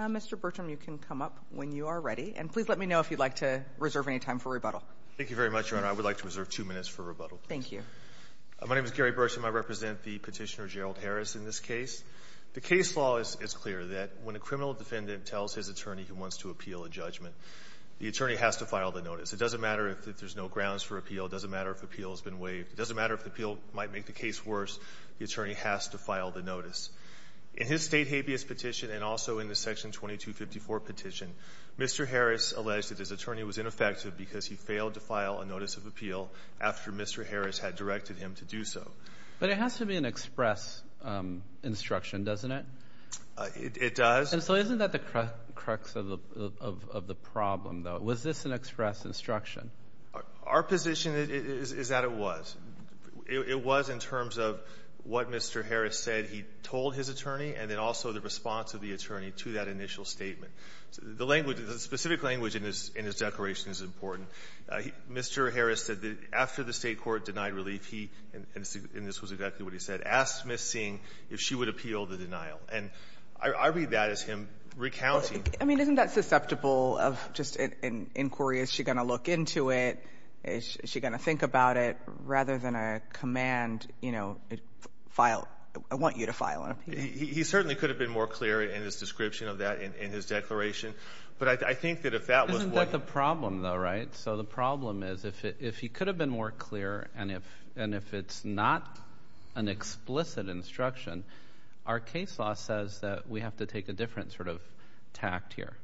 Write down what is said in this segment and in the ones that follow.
Mr. Bertram, you can come up when you are ready, and please let me know if you'd like to reserve any time for rebuttal. Thank you very much, Your Honor. I would like to reserve two minutes for rebuttal. Thank you. My name is Gary Bertram. I represent the petitioner Gerald Harris in this case. The case law is clear that when a criminal defendant tells his attorney he wants to appeal a judgment, the attorney has to file the notice. It doesn't matter if there's no grounds for appeal. It doesn't matter if the appeal has been waived. It doesn't matter if the appeal might make the case worse. The attorney has to file the notice. In his State habeas petition and also in the Section 2254 petition, Mr. Harris alleged that his attorney was ineffective because he failed to file a notice of appeal after Mr. Harris had directed him to do so. But it has to be an express instruction, doesn't it? It does. And so isn't that the crux of the problem, though? Was this an express instruction? Our position is that it was. It was in terms of what Mr. Harris said he told his attorney and then also the response of the attorney to that initial statement. The language, the specific language in his declaration is important. Mr. Harris said that after the State court denied relief, he, and this was exactly what he said, asked Ms. Singh if she would appeal the denial. And I read that as him recounting. I mean, isn't that susceptible of just an inquiry? Is she going to look into it? Is she going to think about it rather than a command, you know, file? I want you to file an appeal. He certainly could have been more clear in his description of that in his declaration. But I think that if that was what… Isn't that the problem, though, right? So the problem is if he could have been more clear and if it's not an explicit instruction, our case law says that we have to take a different sort of tact here.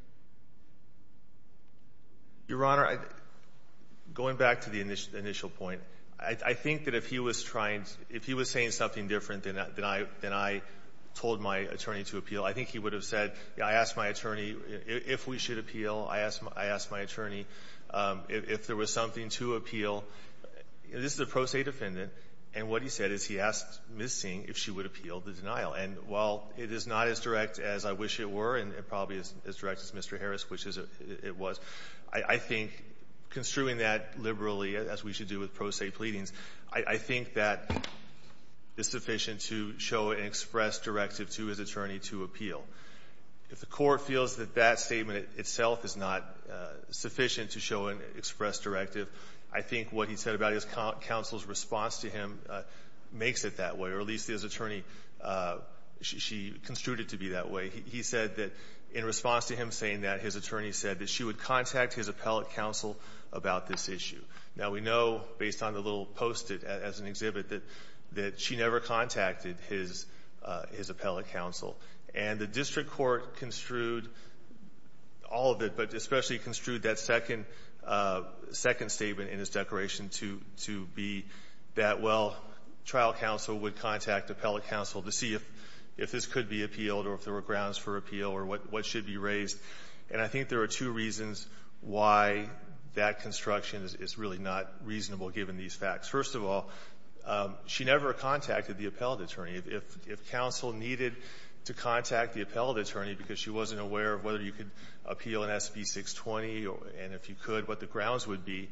Your Honor, going back to the initial point, I think that if he was trying, if he was saying something different than I told my attorney to appeal, I think he would have said, I asked my attorney if we should appeal. I asked my attorney if there was something to appeal. This is a pro se defendant. And what he said is he asked Ms. Singh if she would appeal the denial. And while it is not as direct as I wish it were and probably as direct as Mr. Harris, which it was, I think construing that liberally, as we should do with pro se pleadings, I think that is sufficient to show an express directive to his attorney to appeal. If the Court feels that that statement itself is not sufficient to show an express directive, I think what he said about his counsel's response to him makes it that way, or at least his attorney, she construed it to be that way. He said that in response to him saying that, his attorney said that she would contact his appellate counsel about this issue. Now, we know, based on the little Post-it as an exhibit, that she never contacted his appellate counsel. And the district court construed all of it, but especially construed that second statement in his declaration to be that, well, trial counsel would contact appellate counsel to see if this could be appealed or if there were grounds for appeal or what should be raised. And I think there are two reasons why that construction is really not reasonable given these facts. First of all, she never contacted the appellate attorney. If counsel needed to contact the appellate attorney because she wasn't aware of whether you could appeal an SB 620 and if you could what the grounds would be,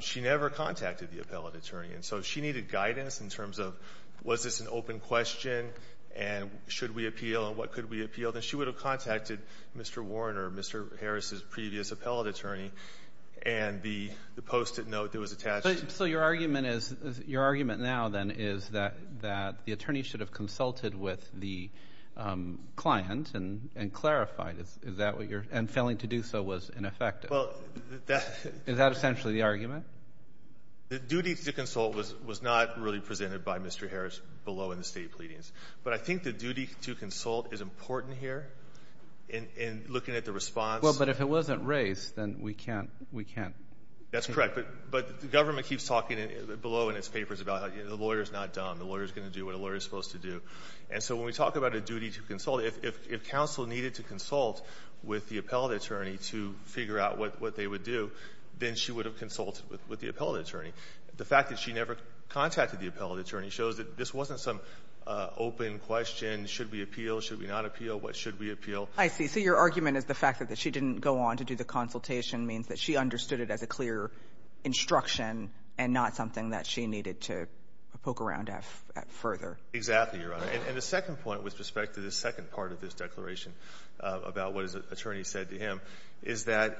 she never contacted the appellate attorney. And so if she needed guidance in terms of was this an open question and should we appeal and what could we appeal, then she would have contacted Mr. Warren or Mr. Harris's previous appellate attorney and the Post-it note that was attached. So your argument is, your argument now then is that the attorney should have done that and failing to do so was ineffective. Is that essentially the argument? The duty to consult was not really presented by Mr. Harris below in the State pleadings. But I think the duty to consult is important here in looking at the response. Well, but if it wasn't raised, then we can't, we can't. That's correct. But the government keeps talking below in its papers about the lawyer is not dumb. The lawyer is going to do what a lawyer is supposed to do. And so when we talk about a duty to consult, if counsel needed to consult with the appellate attorney to figure out what they would do, then she would have consulted with the appellate attorney. The fact that she never contacted the appellate attorney shows that this wasn't some open question, should we appeal, should we not appeal, what should we appeal. I see. So your argument is the fact that she didn't go on to do the consultation means that she understood it as a clear instruction and not something that she needed to poke around at further. Exactly, Your Honor. And the second point with respect to the second part of this declaration about what his attorney said to him is that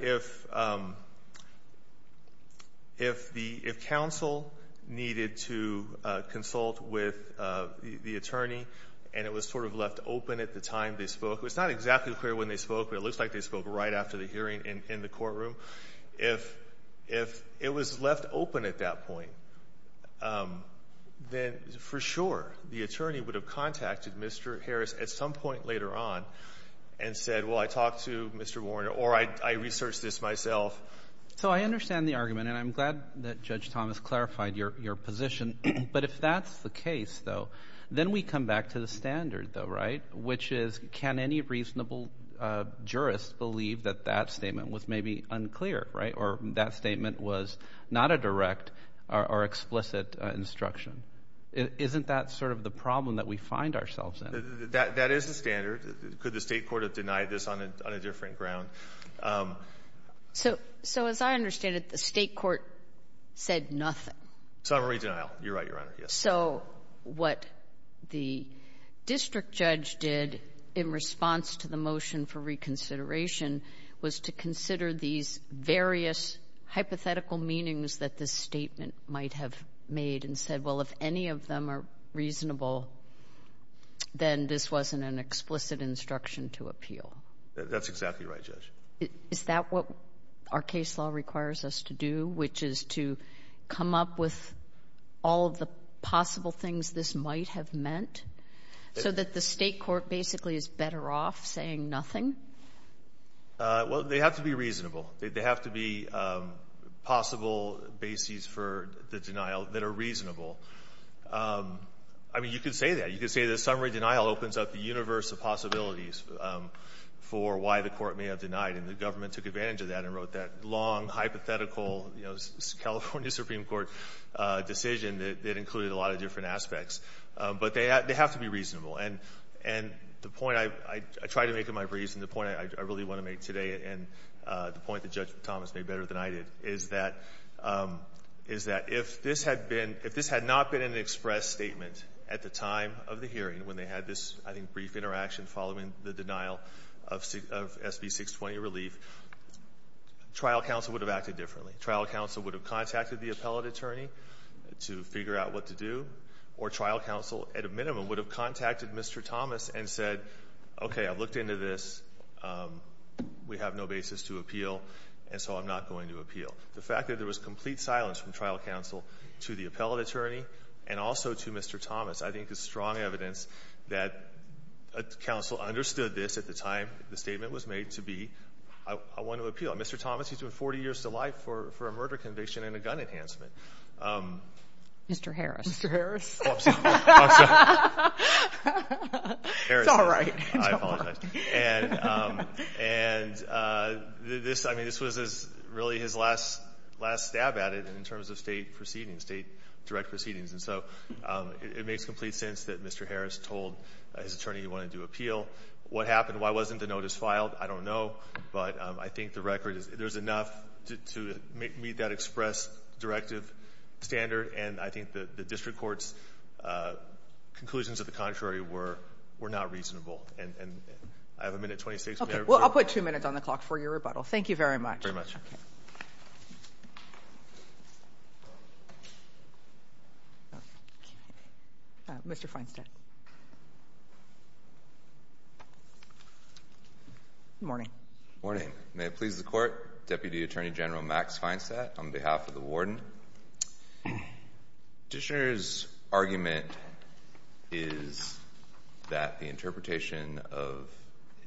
if the counsel needed to consult with the attorney and it was sort of left open at the time they spoke, it's not exactly clear when they spoke, but it looks like they spoke right after the hearing in the courtroom. If it was left open at that point, then for sure the attorney would have contacted Mr. Harris at some point later on and said, well, I talked to Mr. Warner or I researched this myself. So I understand the argument, and I'm glad that Judge Thomas clarified your position, but if that's the case, though, then we come back to the standard, though, right, which is can any reasonable jurist believe that that statement was maybe unclear, right, or that statement was not a direct or explicit instruction? Isn't that sort of the problem that we find ourselves in? That is the standard. Could the state court have denied this on a different ground? So as I understand it, the state court said nothing. Summary denial. You're right, Your Honor. Yes. So what the district judge did in response to the motion for reconsideration was to consider these various hypothetical meanings that this statement might have made and said, well, if any of them are reasonable, then this wasn't an explicit instruction to appeal. That's exactly right, Judge. Is that what our case law requires us to do, which is to come up with all of the possible things this might have meant so that the state court basically is better off saying nothing? Well, they have to be reasonable. They have to be possible bases for the denial that are reasonable. I mean, you could say that. You could say that summary denial opens up the universe of possibilities for why the court may have denied. And the government took advantage of that and wrote that long, hypothetical, California Supreme Court decision that included a lot of different aspects. But they have to be reasonable. And the point I try to make in my briefs and the point I really want to make today and the point that Judge Thomas made better than I did is that if this had not been an express statement at the time of the hearing when they had this, I think, brief interaction following the denial of SB 620 relief, trial counsel would have acted differently. Trial counsel would have contacted the appellate attorney to figure out what to do. Or trial counsel, at a minimum, would have contacted Mr. Thomas and said, okay, I've looked into this. We have no basis to appeal, and so I'm not going to appeal. The fact that there was complete silence from trial counsel to the appellate attorney and also to Mr. Thomas I think is strong evidence that counsel understood this at the time the statement was made to be, I want to appeal. Mr. Thomas, he's been 40 years to life for a murder conviction and a gun enhancement. Mr. Harris. Mr. Harris. Oh, I'm sorry. It's all right. I apologize. And this was really his last stab at it in terms of state proceedings, state direct proceedings. And so it makes complete sense that Mr. Harris told his attorney he wanted to appeal. What happened? Why wasn't the notice filed? I don't know. But I think the record is there's enough to meet that express directive standard, and I think the district court's conclusions of the contrary were not reasonable. And I have a minute and 26 minutes. Well, I'll put two minutes on the clock for your rebuttal. Thank you very much. Mr. Feinstadt. Good morning. Good morning. May it please the court. Deputy Attorney General Max Feinstadt on behalf of the warden. Dishner's argument is that the interpretation of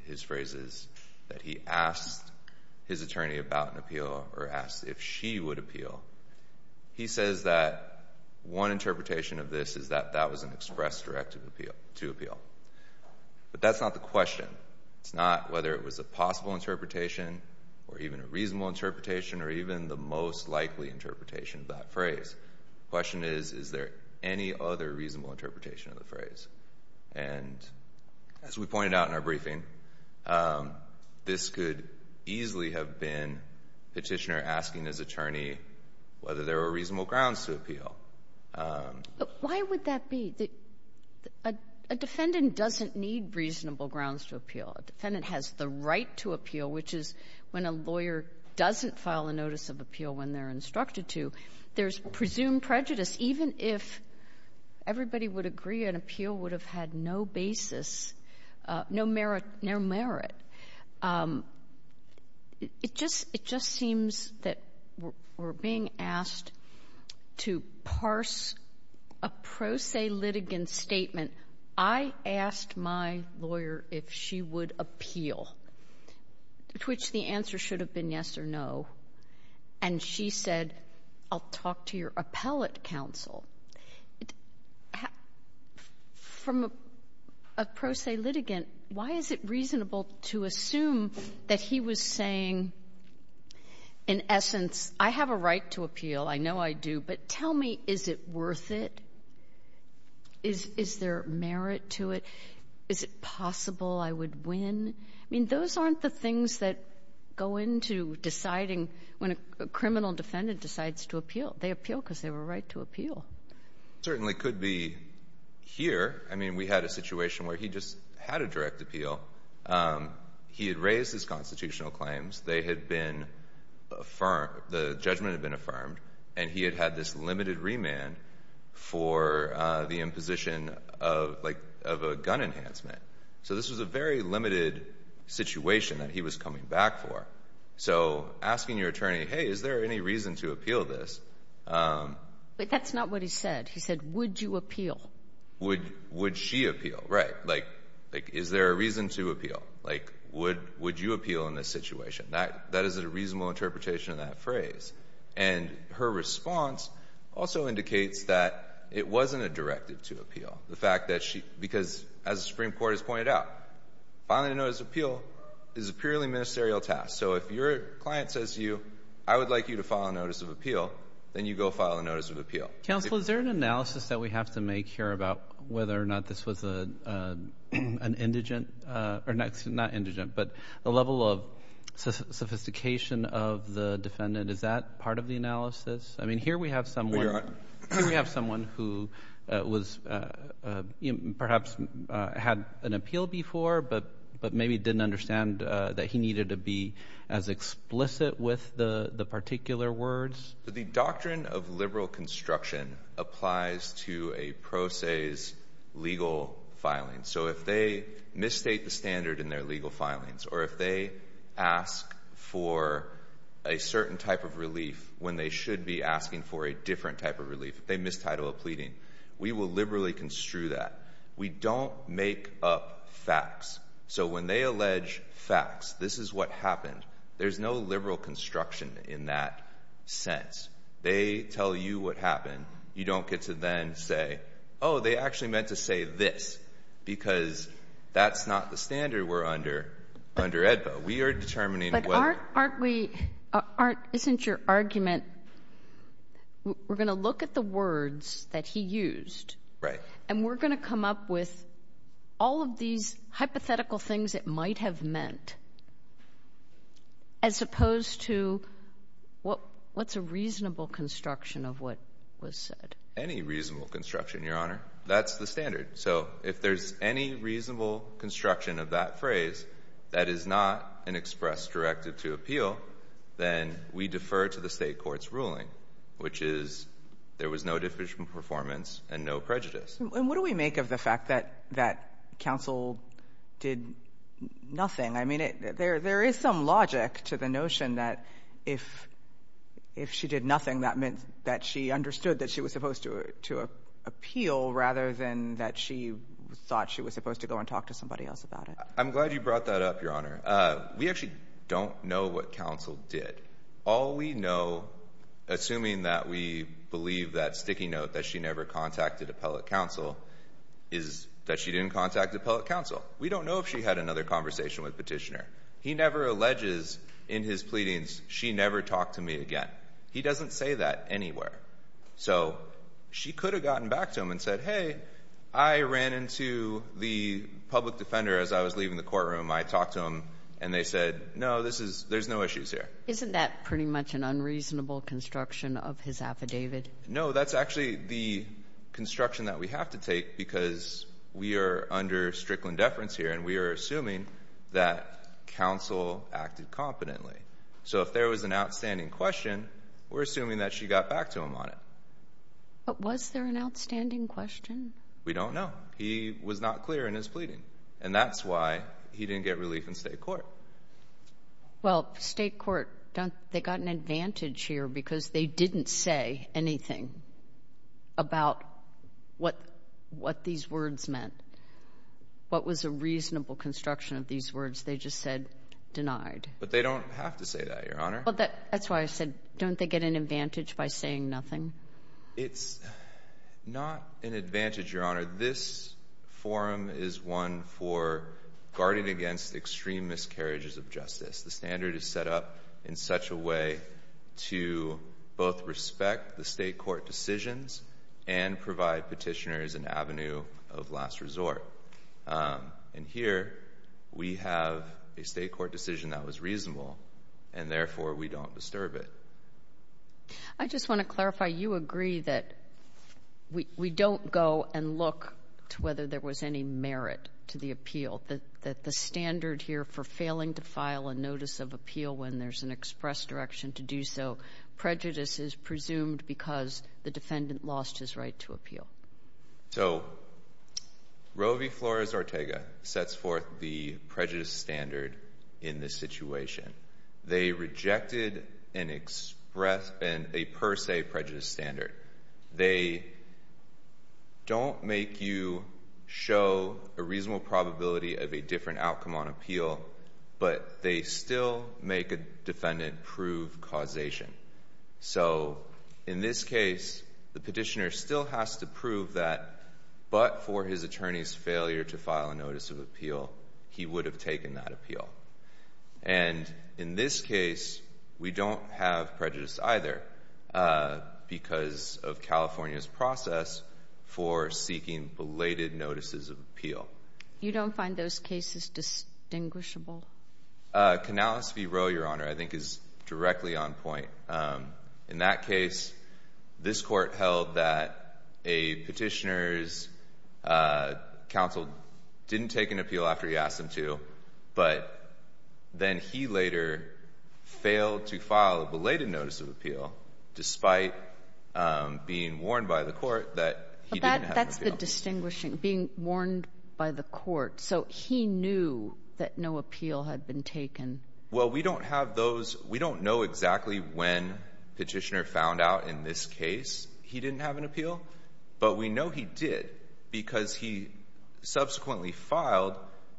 his phrase is that he asked his attorney about an appeal or asked if she would appeal. He says that one interpretation of this is that that was an express directive to appeal. But that's not the question. It's not whether it was a possible interpretation or even a reasonable interpretation or even the most likely interpretation of that phrase. The question is, is there any other reasonable interpretation of the phrase? And as we pointed out in our briefing, this could easily have been Dishner asking his attorney whether there were reasonable grounds to appeal. Why would that be? A defendant doesn't need reasonable grounds to appeal. A defendant has the right to appeal, which is when a lawyer doesn't file a notice of appeal when they're instructed to. There's presumed prejudice. Even if everybody would agree an appeal would have had no basis, no merit. It just seems that we're being asked to parse a pro se litigant statement, I asked my lawyer if she would appeal, to which the answer should have been yes or no. And she said, I'll talk to your appellate counsel. From a pro se litigant, why is it reasonable to assume that he was saying, in essence, I have a right to appeal, I know I do, but tell me, is it worth it? Is there merit to it? Is it possible I would win? I mean, those aren't the things that go into deciding when a criminal defendant decides to appeal. They appeal because they have a right to appeal. It certainly could be here. I mean, we had a situation where he just had a direct appeal. He had raised his constitutional claims. They had been affirmed. The judgment had been affirmed. And he had had this limited remand for the imposition of a gun enhancement. So this was a very limited situation that he was coming back for. So asking your attorney, hey, is there any reason to appeal this? But that's not what he said. He said, would you appeal? Would she appeal? Right. Like, is there a reason to appeal? Like, would you appeal in this situation? That is a reasonable interpretation of that phrase. And her response also indicates that it wasn't a directive to appeal. Because, as the Supreme Court has pointed out, filing a notice of appeal is a purely ministerial task. So if your client says to you, I would like you to file a notice of appeal, then you go file a notice of appeal. Counsel, is there an analysis that we have to make here about whether or not this was an indigent or not indigent but a level of sophistication of the defendant? Is that part of the analysis? I mean, here we have someone who was perhaps had an appeal before but maybe didn't understand that he needed to be as explicit with the particular words. The doctrine of liberal construction applies to a pro se's legal filing. So if they misstate the standard in their legal filings or if they ask for a certain type of relief when they should be asking for a different type of relief, they mistitle a pleading, we will liberally construe that. We don't make up facts. So when they allege facts, this is what happened, there's no liberal construction in that sense. They tell you what happened. You don't get to then say, oh, they actually meant to say this because that's not the standard we're under under AEDPA. We are determining what. But aren't we, isn't your argument, we're going to look at the words that he used. Right. And we're going to come up with all of these hypothetical things it might have meant as opposed to what's a reasonable construction of what was said. Any reasonable construction, Your Honor. That's the standard. So if there's any reasonable construction of that phrase that is not an express directive to appeal, then we defer to the state court's ruling, which is there was no deficient performance and no prejudice. And what do we make of the fact that counsel did nothing? I mean, there is some logic to the notion that if she did nothing, that meant that she understood that she was supposed to appeal rather than that she thought she was supposed to go and talk to somebody else about it. I'm glad you brought that up, Your Honor. We actually don't know what counsel did. All we know, assuming that we believe that sticky note that she never contacted appellate counsel, is that she didn't contact appellate counsel. We don't know if she had another conversation with Petitioner. He never alleges in his pleadings, she never talked to me again. He doesn't say that anywhere. So she could have gotten back to him and said, hey, I ran into the public defender as I was leaving the courtroom. I talked to him, and they said, no, there's no issues here. Isn't that pretty much an unreasonable construction of his affidavit? No, that's actually the construction that we have to take because we are under strickland deference here, and we are assuming that counsel acted competently. So if there was an outstanding question, we're assuming that she got back to him on it. But was there an outstanding question? We don't know. He was not clear in his pleading, and that's why he didn't get relief in state court. Well, state court, they got an advantage here because they didn't say anything about what these words meant, what was a reasonable construction of these words. They just said denied. But they don't have to say that, Your Honor. That's why I said, don't they get an advantage by saying nothing? It's not an advantage, Your Honor. This forum is one for guarding against extreme miscarriages of justice. The standard is set up in such a way to both respect the state court decisions and provide petitioners an avenue of last resort. And here we have a state court decision that was reasonable, and therefore we don't disturb it. I just want to clarify. You agree that we don't go and look to whether there was any merit to the appeal, that the standard here for failing to file a notice of appeal when there's an express direction to do so, prejudice is presumed because the defendant lost his right to appeal. So Roe v. Flores-Ortega sets forth the prejudice standard in this situation. They rejected a per se prejudice standard. They don't make you show a reasonable probability of a different outcome on appeal, but they still make a defendant prove causation. So in this case, the petitioner still has to prove that but for his attorney's failure to file a notice of appeal, he would have taken that appeal. And in this case, we don't have prejudice either because of California's process for seeking belated notices of appeal. You don't find those cases distinguishable? Canales v. Roe, Your Honor, I think is directly on point. In that case, this court held that a petitioner's counsel didn't take an appeal after he asked him to, but then he later failed to file a belated notice of appeal despite being warned by the court that he didn't have an appeal. That's the distinguishing, being warned by the court. So he knew that no appeal had been taken. Well, we don't have those. We don't know exactly when petitioner found out in this case he didn't have an appeal, but we know he did because he subsequently filed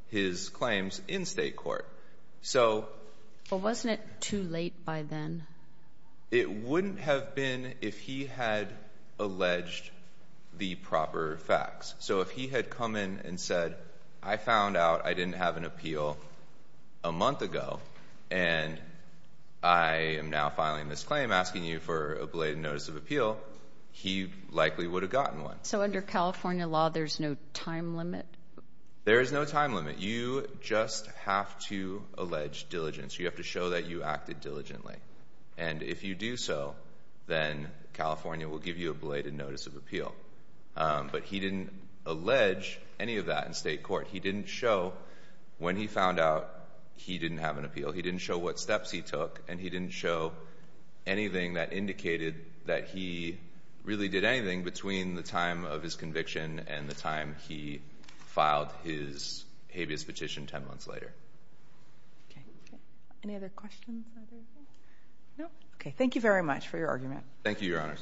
his claims in state court. So wasn't it too late by then? It wouldn't have been if he had alleged the proper facts. So if he had come in and said, I found out I didn't have an appeal a month ago, and I am now filing this claim asking you for a belated notice of appeal, he likely would have gotten one. So under California law, there's no time limit? There is no time limit. You just have to allege diligence. You have to show that you acted diligently. And if you do so, then California will give you a belated notice of appeal. But he didn't allege any of that in state court. He didn't show when he found out he didn't have an appeal. He didn't show what steps he took, and he didn't show anything that indicated that he really did anything between the time of his conviction and the time he filed his habeas petition 10 months later. Okay. Any other questions? No? Okay. Thank you very much for your argument. Thank you, Your Honors.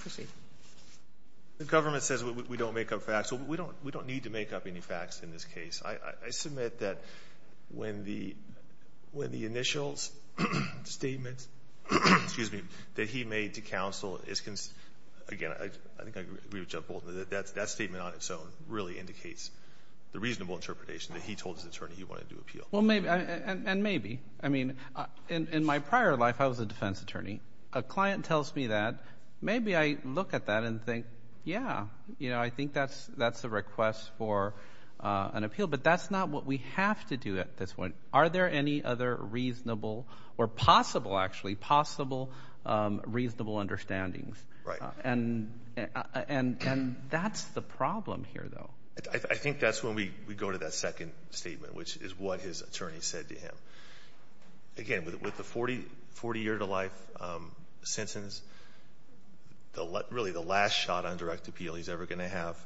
Proceed. The government says we don't make up facts. We don't need to make up any facts in this case. I submit that when the initial statement that he made to counsel is, again, I think I agree with Judge Bolton. That statement on its own really indicates the reasonable interpretation that he told his attorney he wanted to appeal. And maybe. I mean, in my prior life, I was a defense attorney. A client tells me that. Maybe I look at that and think, yeah, you know, I think that's a request for an appeal. But that's not what we have to do at this point. Are there any other reasonable or possible, actually, possible reasonable understandings? Right. And that's the problem here, though. I think that's when we go to that second statement, which is what his attorney said to him. Again, with the 40-year-to-life sentence, really the last shot on direct appeal he's ever going to have,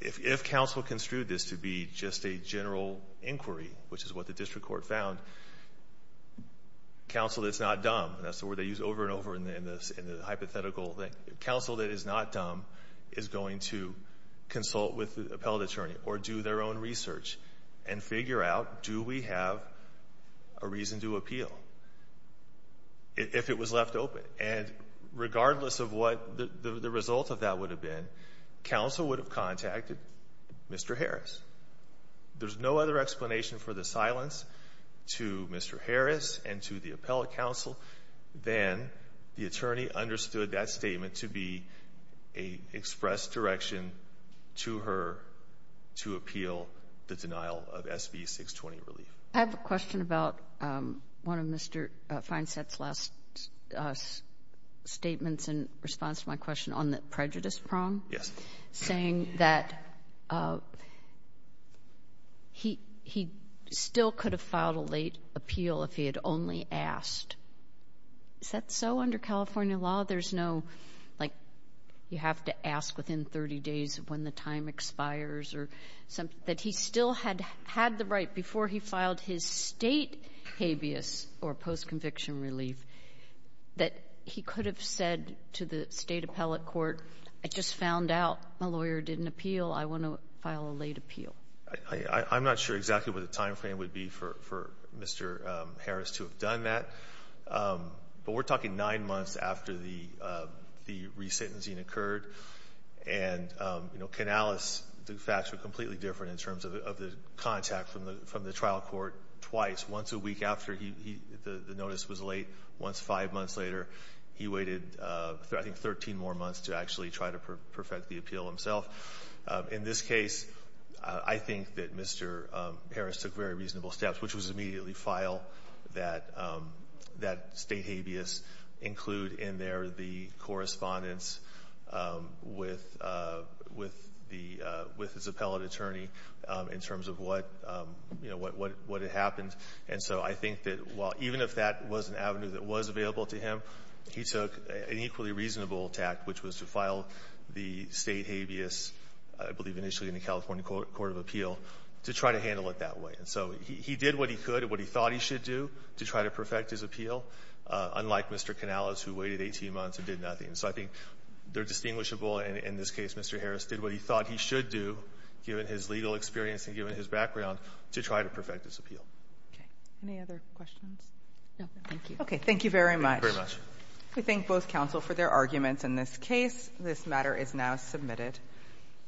if counsel construed this to be just a general inquiry, which is what the district court found, counsel that's not dumb. That's the word they use over and over in the hypothetical thing. Counsel that is not dumb is going to consult with the appellate attorney or do their own research and figure out do we have a reason to appeal if it was left open. And regardless of what the result of that would have been, counsel would have contacted Mr. Harris. There's no other explanation for the silence to Mr. Harris and to the appellate counsel than the attorney understood that statement to be an express direction to her to appeal the denial of SB 620 relief. I have a question about one of Mr. Feinsatz's last statements in response to my question on the prejudice prong. Yes. Saying that he still could have filed a late appeal if he had only asked. Is that so under California law? There's no, like, you have to ask within 30 days when the time expires or something? That he still had the right before he filed his state habeas or post-conviction relief that he could have said to the state appellate court, I just found out my lawyer didn't appeal. I want to file a late appeal. I'm not sure exactly what the time frame would be for Mr. Harris to have done that. But we're talking nine months after the resentencing occurred. And, you know, Canalis, the facts were completely different in terms of the contact from the trial court twice, once a week after the notice was late, once five months later. He waited, I think, 13 more months to actually try to perfect the appeal himself. In this case, I think that Mr. Harris took very reasonable steps, which was immediately file that state habeas, include in there the correspondence with his appellate attorney in terms of what had happened. And so I think that even if that was an avenue that was available to him, he took an equally reasonable tact, which was to file the state habeas, I believe initially in the California Court of Appeal, to try to handle it that way. And so he did what he could and what he thought he should do to try to perfect his appeal, unlike Mr. Canalis, who waited 18 months and did nothing. So I think they're distinguishable. And in this case, Mr. Harris did what he thought he should do, given his legal experience and given his background, to try to perfect his appeal. Okay. Any other questions? No. Thank you. Okay. Thank you very much. Thank you very much. We thank both counsel for their arguments. In this case, this matter is now submitted.